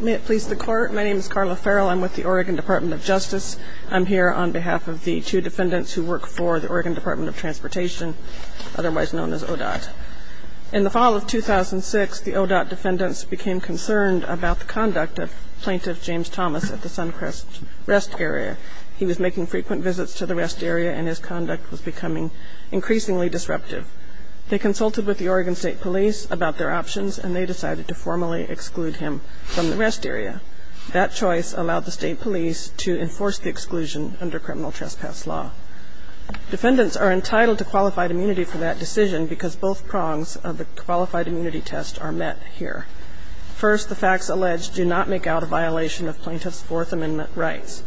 May it please the Court. My name is Carla Farrell. I'm with the Oregon Department of Justice. I'm here on behalf of the two defendants who work for the Oregon Department of Transportation, otherwise known as ODOT. In the fall of 2006, the ODOT defendants became concerned about the conduct of Plaintiff James Thomas at the Suncrest Rest Area. He was making frequent visits to the rest area and his conduct was becoming increasingly disruptive. They consulted with the Oregon State Police about their options and they decided to formally exclude him from the rest area. That choice allowed the State Police to enforce the exclusion under criminal trespass law. Defendants are entitled to qualified immunity for that decision because both prongs of the qualified immunity test are met here. First, the facts alleged do not make out a violation of Plaintiff's Fourth Amendment rights.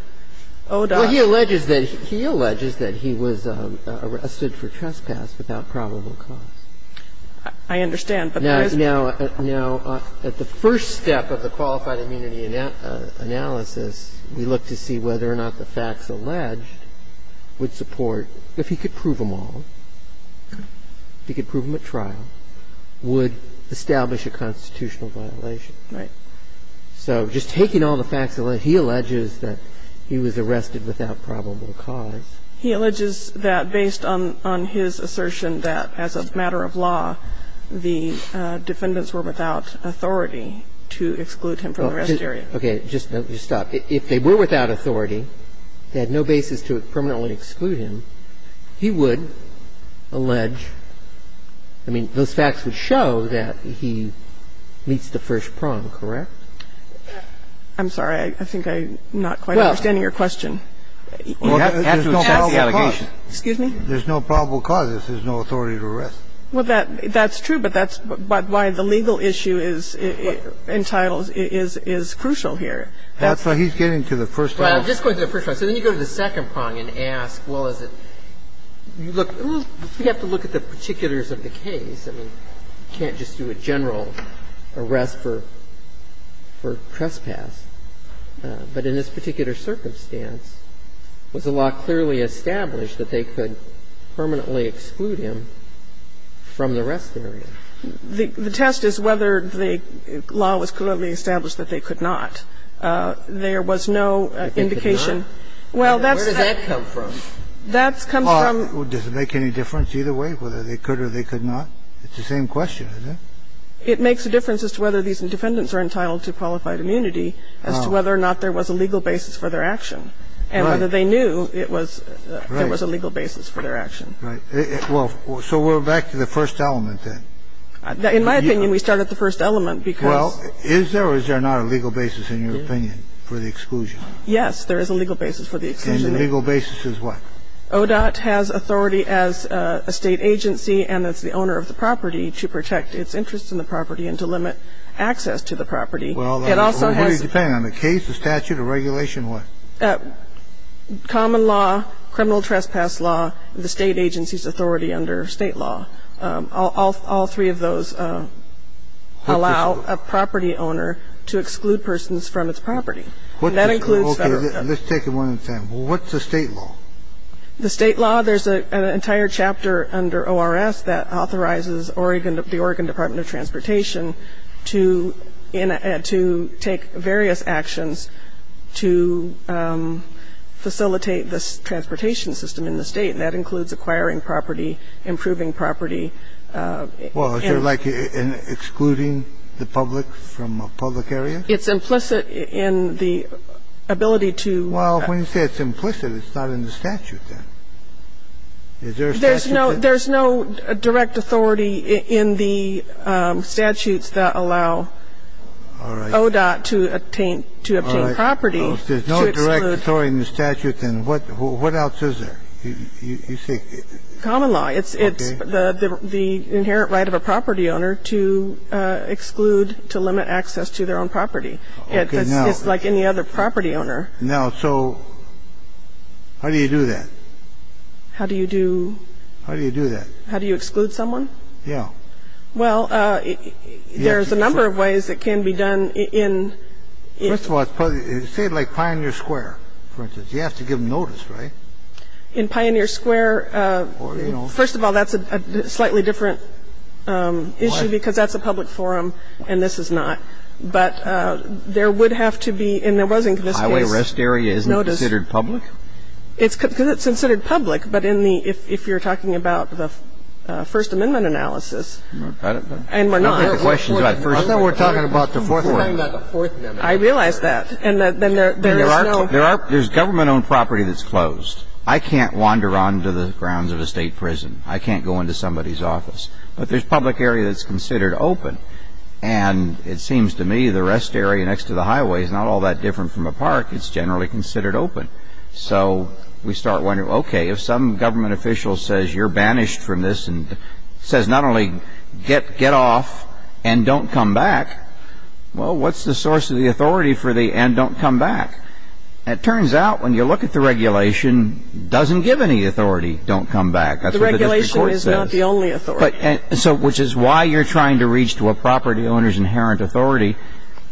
And second, the facts alleged do not make out a violation of Plaintiff's Fourth Amendment rights. And third, the facts alleged do not make out a violation of Plaintiff's Fourth Amendment rights. And the fact that he was arrested without probable cause. He alleges that based on his assertion that as a matter of law, the defendants were without authority to exclude him from the rest area. Okay. Just stop. If they were without authority, they had no basis to permanently exclude him, he would allege, I mean, those facts would show that he meets the first prong, correct? I'm sorry. I think I'm not quite understanding your question. There's no probable cause. Excuse me? There's no probable cause. There's no authority to arrest. Well, that's true, but that's why the legal issue is entitled, is crucial here. That's why he's getting to the first prong. I'm just going to the first prong. So then you go to the second prong and ask, well, is it you look, we have to look at the particulars of the case. I mean, you can't just do a general arrest for trespass. But in this particular circumstance, was the law clearly established that they could permanently exclude him from the rest area? The test is whether the law was clearly established that they could not. There was no indication. Where does that come from? That comes from. Does it make any difference either way, whether they could or they could not? It's the same question, isn't it? It makes a difference as to whether these defendants are entitled to qualified immunity as to whether or not there was a legal basis for their action and whether they knew it was a legal basis for their action. Right. Well, so we're back to the first element then. In my opinion, we start at the first element because. Well, is there or is there not a legal basis, in your opinion, for the exclusion? Yes, there is a legal basis for the exclusion. And the legal basis is what? Well, ODOT has authority as a State agency and as the owner of the property to protect its interests in the property and to limit access to the property. It also has. Well, what does it depend on? The case, the statute, the regulation? What? Common law, criminal trespass law, the State agency's authority under State law. All three of those allow a property owner to exclude persons from its property. And that includes Federal. Okay. Let's take one at a time. What's the State law? The State law, there's an entire chapter under ORS that authorizes Oregon, the Oregon Department of Transportation, to take various actions to facilitate the transportation system in the State, and that includes acquiring property, improving property. Well, is there like an excluding the public from a public area? It's implicit in the ability to. Well, when you say it's implicit, it's not in the statute then. Is there a statute then? There's no direct authority in the statutes that allow ODOT to obtain property to exclude. If there's no direct authority in the statute, then what else is there? You see. Common law. It's the inherent right of a property owner to exclude, to limit access to their own property. It's like any other property owner. Now, so how do you do that? How do you do? How do you do that? How do you exclude someone? Yeah. Well, there's a number of ways that can be done in. First of all, say like Pioneer Square, for instance. You have to give them notice, right? In Pioneer Square, first of all, that's a slightly different issue because that's a public forum and this is not. But there would have to be, and there wasn't in this case. Highway rest area isn't considered public? It's considered public. But in the, if you're talking about the First Amendment analysis, and we're not. I thought we were talking about the Fourth Amendment. I realize that. And then there is no. There's government-owned property that's closed. I can't wander onto the grounds of a State prison. I can't go into somebody's office. But there's public area that's considered open. And it seems to me the rest area next to the highway is not all that different from a park. It's generally considered open. So we start wondering, okay, if some government official says you're banished from this and says not only get off and don't come back, well, what's the source of the authority for the and don't come back? It turns out when you look at the regulation, it doesn't give any authority, don't come back. The regulation is not the only authority. But so which is why you're trying to reach to a property owner's inherent authority.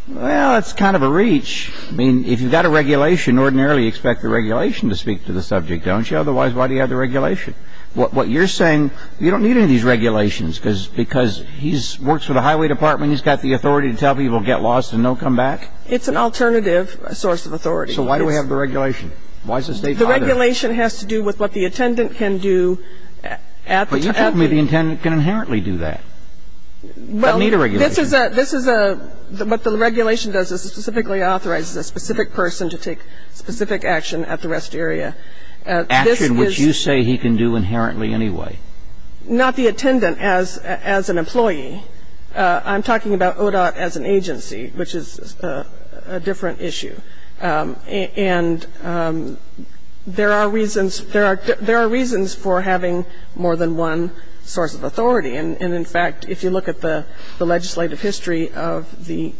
Well, it's kind of a reach. I mean, if you've got a regulation, ordinarily you expect the regulation to speak to the subject, don't you? Otherwise, why do you have the regulation? What you're saying, you don't need any of these regulations because he works for the highway department. He's got the authority to tell people get lost and don't come back? It's an alternative source of authority. So why do we have the regulation? Why is the State private? The regulation has to do with what the attendant can do at the time. You told me the attendant can inherently do that. You don't need a regulation. Well, this is a what the regulation does is specifically authorizes a specific person to take specific action at the rest area. Action which you say he can do inherently anyway. Not the attendant as an employee. I'm talking about ODOT as an agency, which is a different issue. And there are reasons, there are reasons for having more than one source of authority. And in fact, if you look at the legislative history of the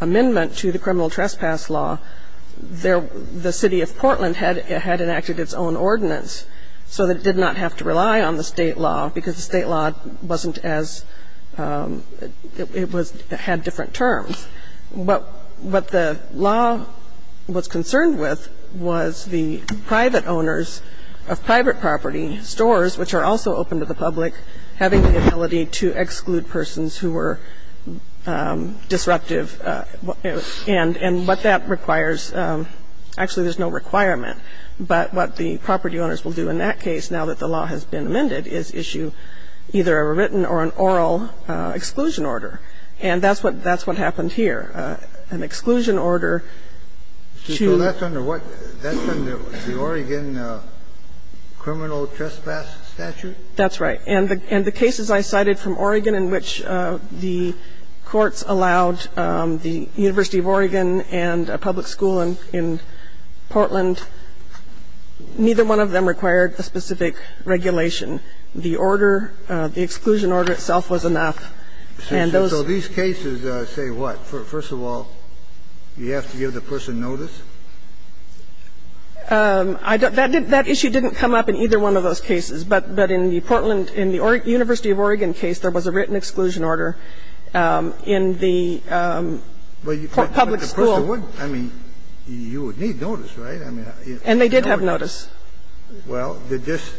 amendment to the criminal trespass law, the City of Portland had enacted its own ordinance so that it did not have to rely on the State law because the State law wasn't as, it was, had different terms. But what the law was concerned with was the private owners of private property stores, which are also open to the public, having the ability to exclude persons who were disruptive, and what that requires. Actually, there's no requirement. But what the property owners will do in that case, now that the law has been amended, is issue either a written or an oral exclusion order. And that's what happened here. An exclusion order to... So that's under what? That's under the Oregon criminal trespass statute? That's right. And the cases I cited from Oregon in which the courts allowed the University of Oregon and a public school in Portland, neither one of them required a specific regulation. The order, the exclusion order itself was enough. And those... So these cases say what? First of all, you have to give the person notice? I don't. That issue didn't come up in either one of those cases. But in the Portland, in the University of Oregon case, there was a written exclusion order in the public school. But the person wouldn't. I mean, you would need notice, right? And they did have notice. Well, did this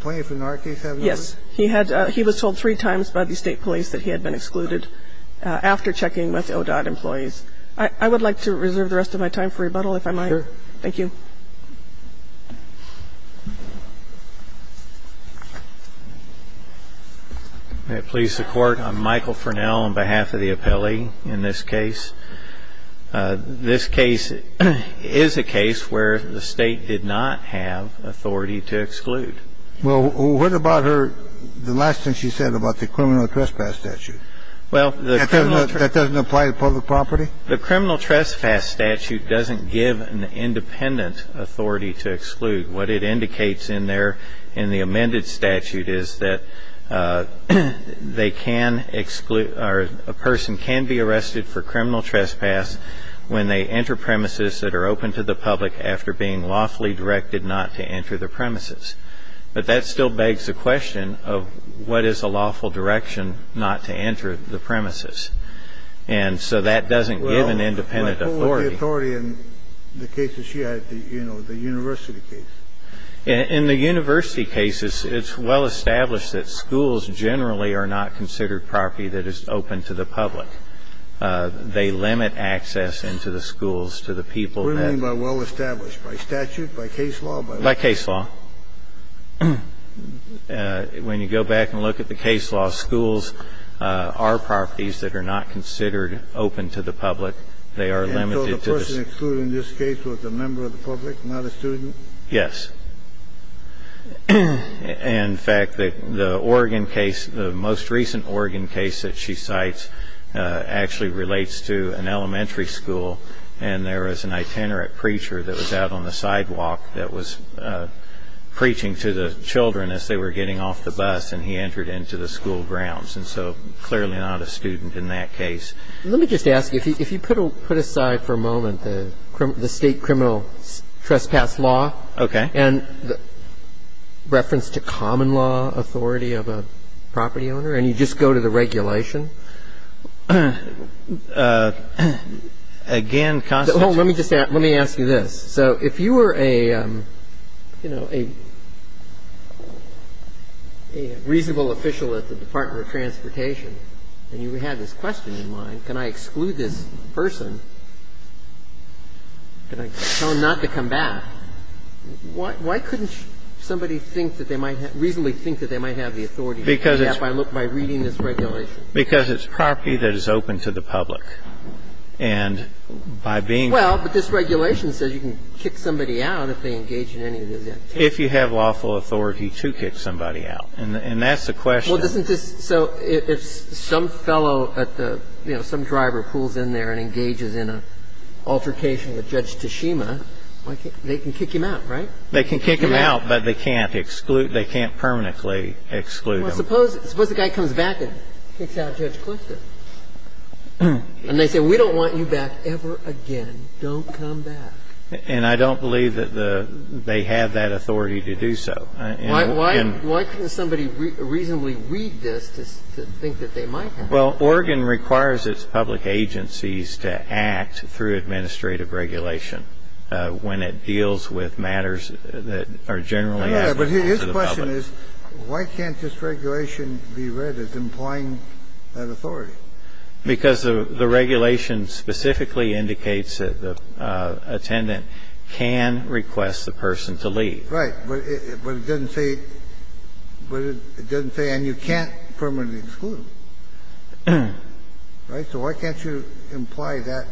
plaintiff in our case have notice? Yes. He had. He was told three times by the state police that he had been excluded after checking with ODOT employees. I would like to reserve the rest of my time for rebuttal, if I might. Sure. Thank you. May it please the Court. I'm Michael Furnell on behalf of the appellee in this case. This case is a case where the State did not have authority to exclude. Well, what about her the last thing she said about the criminal trespass statute? Well, the criminal... That doesn't apply to public property? The criminal trespass statute doesn't give an independent authority to exclude. What it indicates in there in the amended statute is that they can exclude or a person can be arrested for criminal trespass when they enter premises that are open to the public after being lawfully directed not to enter the premises. But that still begs the question of what is a lawful direction not to enter the premises. And so that doesn't give an independent authority. Well, what was the authority in the case that she had, you know, the university case? In the university cases, it's well established that schools generally are not considered property that is open to the public. They limit access into the schools to the people that... By statute? By case law? By case law. When you go back and look at the case law, schools are properties that are not considered open to the public. They are limited to the... And so the person excluded in this case was a member of the public, not a student? Yes. In fact, the Oregon case, the most recent Oregon case that she cites actually relates to an elementary school, and there was an itinerant preacher that was out on the sidewalk that was preaching to the children as they were getting off the bus, and he entered into the school grounds. And so clearly not a student in that case. Let me just ask you, if you put aside for a moment the state criminal trespass law... Okay. ...and the reference to common law authority of a property owner, and you just go to the regulation... Again, Constance... Let me just ask you this. So if you were a, you know, a reasonable official at the Department of Transportation and you had this question in mind, can I exclude this person, can I tell him not to come back, why couldn't somebody think that they might have, reasonably think that they might have the authority... Because it's... ...by reading this regulation? Because it's property that is open to the public. And by being... Well, but this regulation says you can kick somebody out if they engage in any of those activities. If you have lawful authority to kick somebody out. And that's the question. Well, isn't this so if some fellow at the, you know, some driver pulls in there and engages in an altercation with Judge Tashima, they can kick him out, right? They can kick him out, but they can't exclude, they can't permanently exclude him. Well, suppose the guy comes back and kicks out Judge Clifton. And they say, we don't want you back ever again. Don't come back. And I don't believe that they have that authority to do so. Why couldn't somebody reasonably read this to think that they might have? Well, Oregon requires its public agencies to act through administrative regulation when it deals with matters that are generally... Yeah, but his question is, why can't this regulation be read as employing that authority? Because the regulation specifically indicates that the attendant can request the person to leave. Right. But it doesn't say, but it doesn't say, and you can't permanently exclude him. Right? So why can't you imply that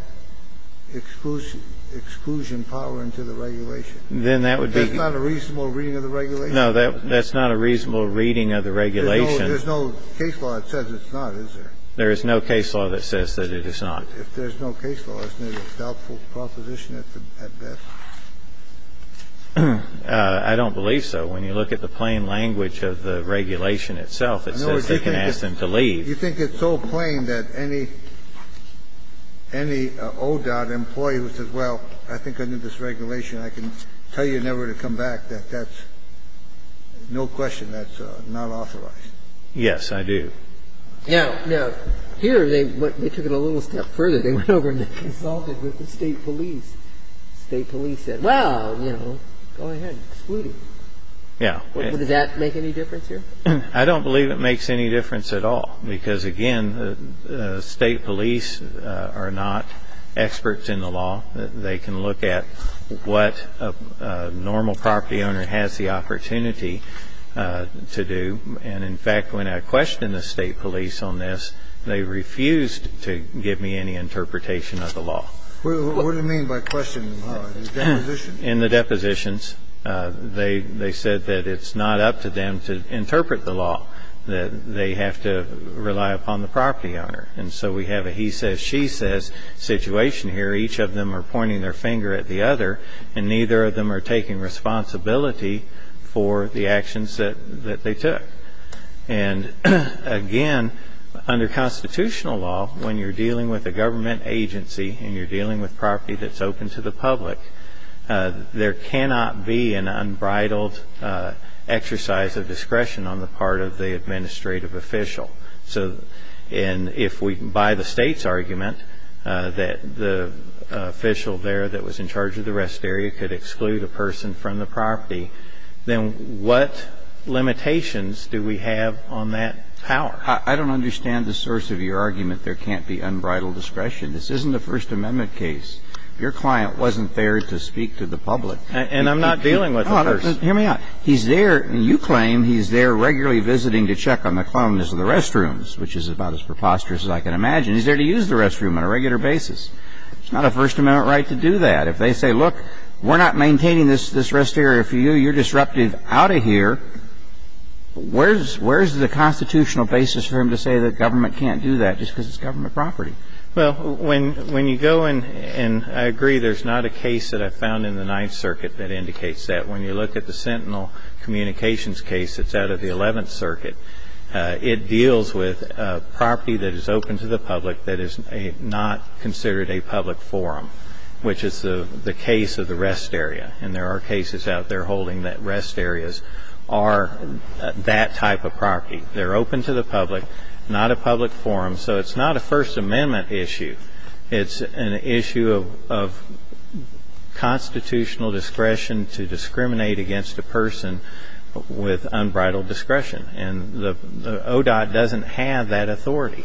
exclusion power into the regulation? Then that would be... That's not a reasonable reading of the regulation? No, that's not a reasonable reading of the regulation. There's no case law that says it's not, is there? There is no case law that says that it is not. If there's no case law, isn't it a doubtful proposition at best? I don't believe so. When you look at the plain language of the regulation itself, it says they can ask them to leave. You think it's so plain that any ODOT employee who says, well, I think under this regulation I can tell you never to come back, that that's no question, that's not authorized? Yes, I do. Now, here they took it a little step further. They consulted with the state police. The state police said, well, you know, go ahead, exclude him. Does that make any difference here? I don't believe it makes any difference at all because, again, the state police are not experts in the law. They can look at what a normal property owner has the opportunity to do. And, in fact, when I questioned the state police on this, they refused to give me any interpretation of the law. What do you mean by questioning? In the depositions, they said that it's not up to them to interpret the law, that they have to rely upon the property owner. And so we have a he says, she says situation here. Each of them are pointing their finger at the other, and neither of them are taking responsibility for the actions that they took. And, again, under constitutional law, when you're dealing with a government agency and you're dealing with property that's open to the public, there cannot be an unbridled exercise of discretion on the part of the administrative official. So if we, by the state's argument, that the official there that was in charge of the rest area could exclude a person from the property, then what limitations do we have on that power? I don't understand the source of your argument, there can't be unbridled discretion. This isn't a First Amendment case. Your client wasn't there to speak to the public. And I'm not dealing with the person. Hear me out. He's there, and you claim he's there regularly visiting to check on the cleanliness of the restrooms, which is about as preposterous as I can imagine. He's there to use the restroom on a regular basis. It's not a First Amendment right to do that. If they say, look, we're not maintaining this rest area for you, you're disruptive out of here, where's the constitutional basis for him to say that government can't do that just because it's government property? Well, when you go in, and I agree, there's not a case that I found in the Ninth Circuit that indicates that. When you look at the Sentinel Communications case that's out of the Eleventh Circuit, it deals with property that is open to the public that is not considered a public forum, which is the case of the rest area. And there are cases out there holding that rest areas are that type of property. They're open to the public, not a public forum. So it's not a First Amendment issue. It's an issue of constitutional discretion to discriminate against a person with unbridled discretion. And the ODOT doesn't have that authority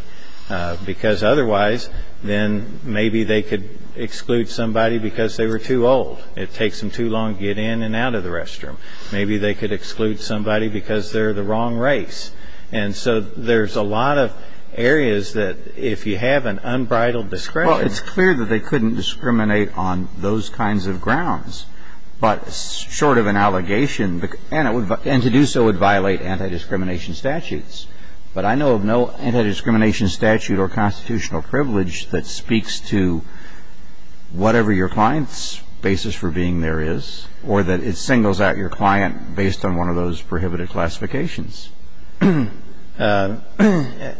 because otherwise then maybe they could exclude somebody because they were too old. It takes them too long to get in and out of the restroom. Maybe they could exclude somebody because they're the wrong race. And so there's a lot of areas that if you have an unbridled discretion. Well, it's clear that they couldn't discriminate on those kinds of grounds. But short of an allegation, and to do so would violate anti-discrimination statutes. But I know of no anti-discrimination statute or constitutional privilege that speaks to whatever your client's basis for being there is or that it singles out your client based on one of those prohibited classifications. There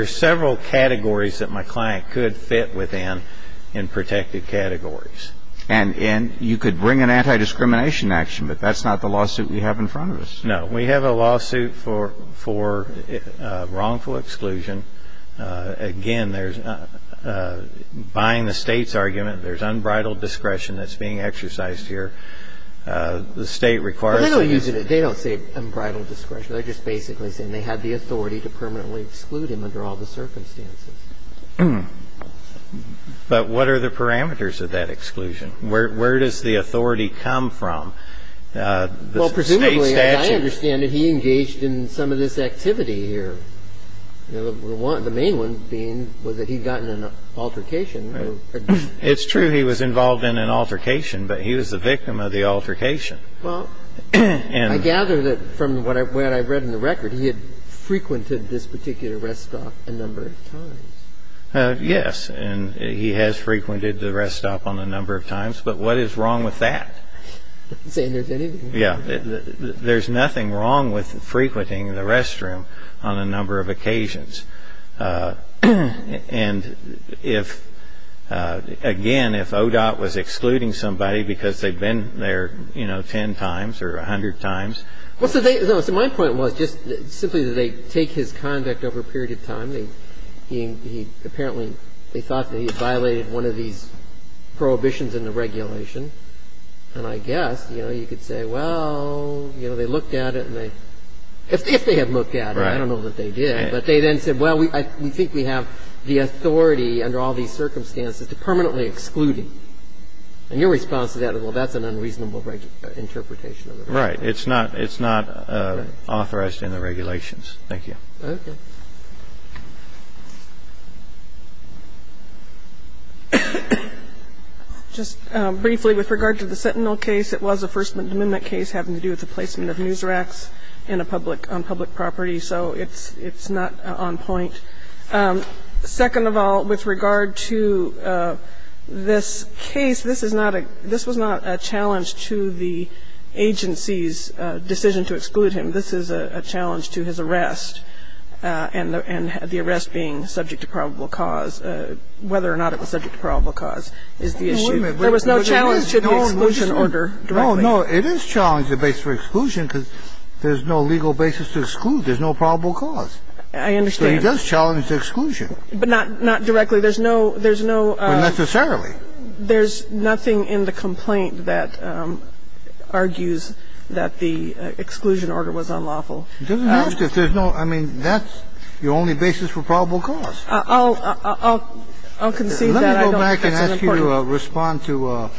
are several categories that my client could fit within in protected categories. And you could bring an anti-discrimination action, but that's not the lawsuit we have in front of us. No. We have a lawsuit for wrongful exclusion. Again, there's buying the State's argument. There's unbridled discretion that's being exercised here. The State requires. Well, they don't use it. They don't say unbridled discretion. They're just basically saying they have the authority to permanently exclude him under all the circumstances. But what are the parameters of that exclusion? Where does the authority come from? Well, presumably, as I understand it, he engaged in some of this activity here. The main one being was that he'd gotten an altercation. It's true he was involved in an altercation, but he was the victim of the altercation. Well, I gather that from what I've read in the record, he had frequented this particular rest stop a number of times. Yes, and he has frequented the rest stop on a number of times. But what is wrong with that? I'm not saying there's anything wrong with that. Yeah. There's nothing wrong with frequenting the restroom on a number of occasions. And if, again, if ODOT was excluding somebody because they'd been there, you know, ten times or a hundred times. Well, so my point was just simply that they take his conduct over a period of time. Apparently, they thought that he had violated one of these prohibitions in the regulation. And I guess, you know, you could say, well, you know, they looked at it and they – if they had looked at it. Right. I don't know that they did. But they then said, well, we think we have the authority under all these circumstances to permanently exclude him. And your response to that is, well, that's an unreasonable interpretation of the regulation. Right. It's not authorized in the regulations. Thank you. Okay. Just briefly, with regard to the Sentinel case, it was a First Amendment case having to do with the placement of news racks in a public – on public property. So it's not on point. Second of all, with regard to this case, this is not a – this was not a challenge to the agency's decision to exclude him. This is a challenge to his arrest. And the arrest being subject to probable cause, whether or not it was subject to probable cause, is the issue. There was no challenge to the exclusion order directly. No, no. It is challenging the basis for exclusion because there's no legal basis to exclude. There's no probable cause. I understand. So he does challenge the exclusion. But not – not directly. There's no – there's no – But necessarily. There's nothing in the complaint that argues that the exclusion order was unlawful. It doesn't have to. There's no – I mean, that's the only basis for probable cause. I'll – I'll concede that. Let me go back and ask you to respond to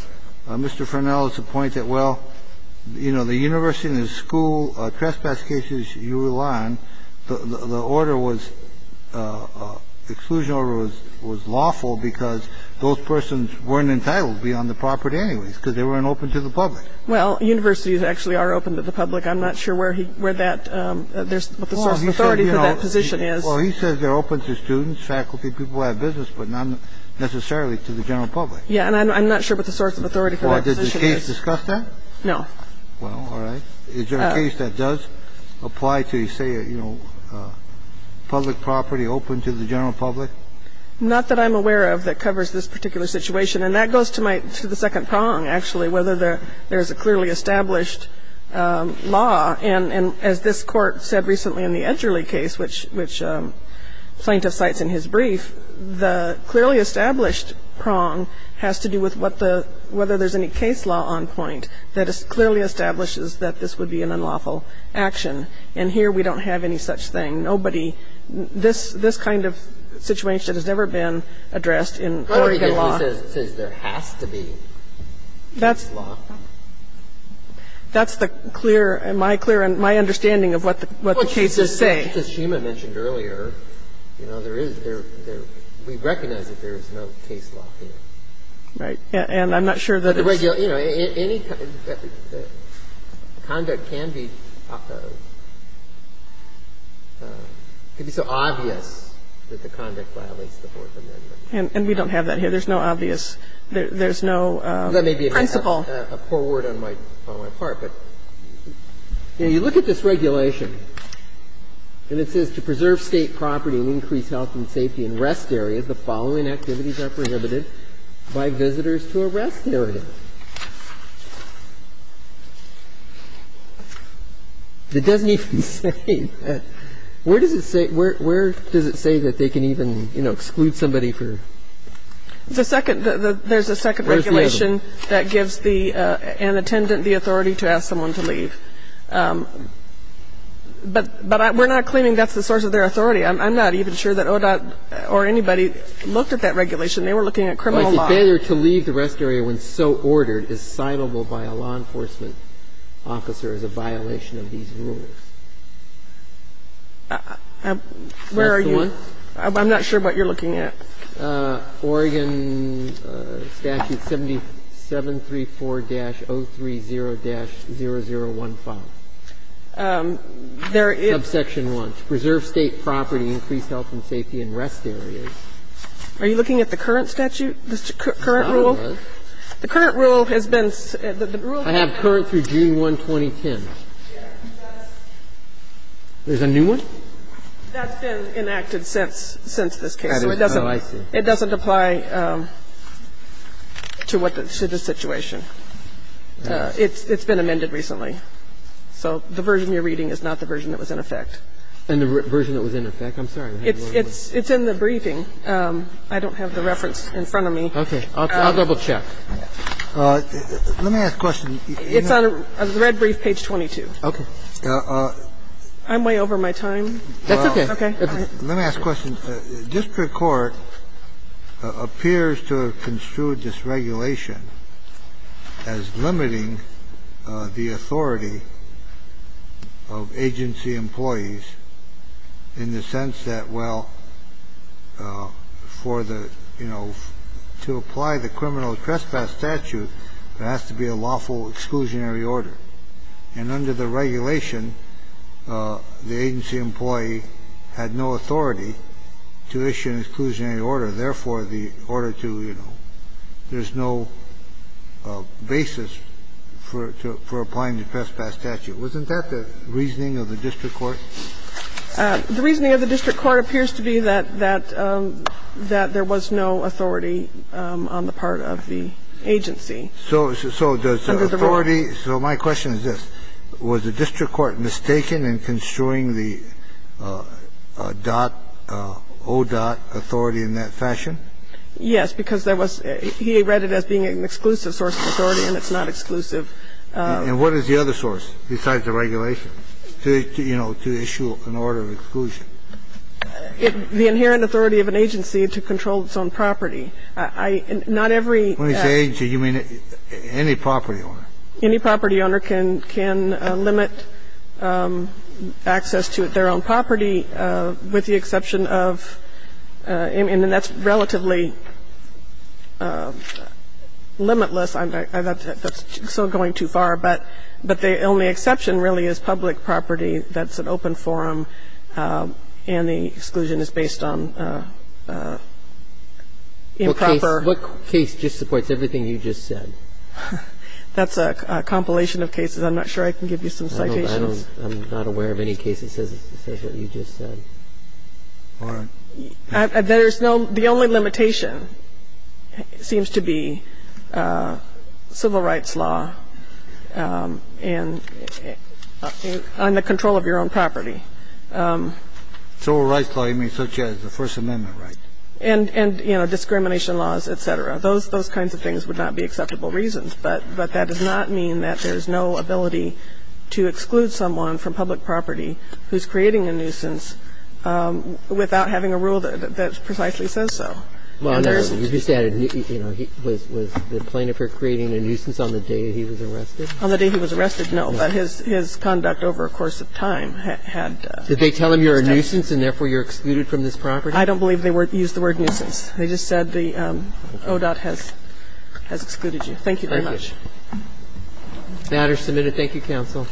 Mr. Fernell's point that, well, you know, the university and the school trespass cases you rely on, the order was – exclusion order was lawful because those persons weren't entitled to be on the property anyways because they weren't open to the public. Well, universities actually are open to the public. I'm not sure where he – where that – what the source of authority for that position is. Well, he says they're open to students, faculty, people who have business, but not necessarily to the general public. Yeah. And I'm not sure what the source of authority for that position is. Well, did the case discuss that? No. Well, all right. Is there a case that does apply to, say, you know, public property open to the general public? Not that I'm aware of that covers this particular situation. And that goes to my – to the second prong, actually, whether there's a clearly established law. And as this Court said recently in the Edgerly case, which plaintiff cites in his brief, the clearly established prong has to do with what the – whether there's any case law on point that clearly establishes that this would be an unlawful action. And here we don't have any such thing. Nobody – this kind of situation has never been addressed in Oregon law. It says there has to be case law. That's the clear – my clear and my understanding of what the cases say. Well, it's just as Shima mentioned earlier. You know, there is – there – we recognize that there is no case law here. Right. And I'm not sure that it's – You know, any conduct can be – can be so obvious that the conduct violates the Fourth Amendment. And we don't have that here. There's no obvious – there's no principle. That may be a poor word on my part, but, you know, you look at this regulation and it says to preserve State property and increase health and safety in rest areas, the following activities are prohibited by visitors to a rest area. It doesn't even say that – where does it say – where does it say that they can leave and, you know, exclude somebody for – The second – there's a second regulation that gives the – an attendant the authority to ask someone to leave. But we're not claiming that's the source of their authority. I'm not even sure that ODOT or anybody looked at that regulation. They were looking at criminal law. But the failure to leave the rest area when so ordered is citable by a law enforcement officer as a violation of these rules. Where are you? I'm not sure what you're looking at. Oregon Statute 7734-030-0015. There is – Subsection 1, to preserve State property, increase health and safety in rest areas. Are you looking at the current statute, the current rule? The current rule has been – the rule – I have current through June 1, 2010. There's a new one? That's been enacted since – since this case. Oh, I see. It doesn't apply to what the – to the situation. It's been amended recently. So the version you're reading is not the version that was in effect. And the version that was in effect? I'm sorry. It's in the briefing. I don't have the reference in front of me. Okay. I'll double-check. Let me ask a question. It's on the red brief, page 22. Okay. I'm way over my time. That's okay. Okay. Let me ask a question. District court appears to have construed this regulation as limiting the authority of agency employees in the sense that, well, for the, you know, to apply the criminal trespass statute, there has to be a lawful exclusionary order. And under the regulation, the agency employee had no authority to issue an exclusionary order. Therefore, the order to, you know, there's no basis for applying the trespass statute. Wasn't that the reasoning of the district court? The reasoning of the district court appears to be that there was no authority on the part of the agency. So does authority – so my question is this. Was the district court mistaken in construing the dot, O dot authority in that fashion? Yes, because there was – he read it as being an exclusive source of authority and it's not exclusive. And what is the other source besides the regulation to, you know, to issue an order of exclusion? The inherent authority of an agency to control its own property. I – not every – When you say agency, you mean any property owner? Any property owner can limit access to their own property with the exception of – and that's relatively limitless. That's still going too far. But the only exception really is public property that's an open forum and the exclusion is based on improper – What case just supports everything you just said? That's a compilation of cases. I'm not sure I can give you some citations. I don't – I'm not aware of any case that says what you just said. All right. There's no – the only limitation seems to be civil rights law and on the control of your own property. Civil rights law, you mean such as the First Amendment right? And, you know, discrimination laws, et cetera. Those kinds of things would not be acceptable reasons. But that does not mean that there's no ability to exclude someone from public property who's creating a nuisance without having a rule that precisely says so. Well, no. You just added, you know, was the plaintiff creating a nuisance on the day he was arrested? On the day he was arrested, no. But his conduct over a course of time had steps. Did they tell him you're a nuisance and therefore you're excluded from this property? I don't believe they used the word nuisance. They just said the ODOT has excluded you. Thank you very much. Thank you. Thank you, counsel.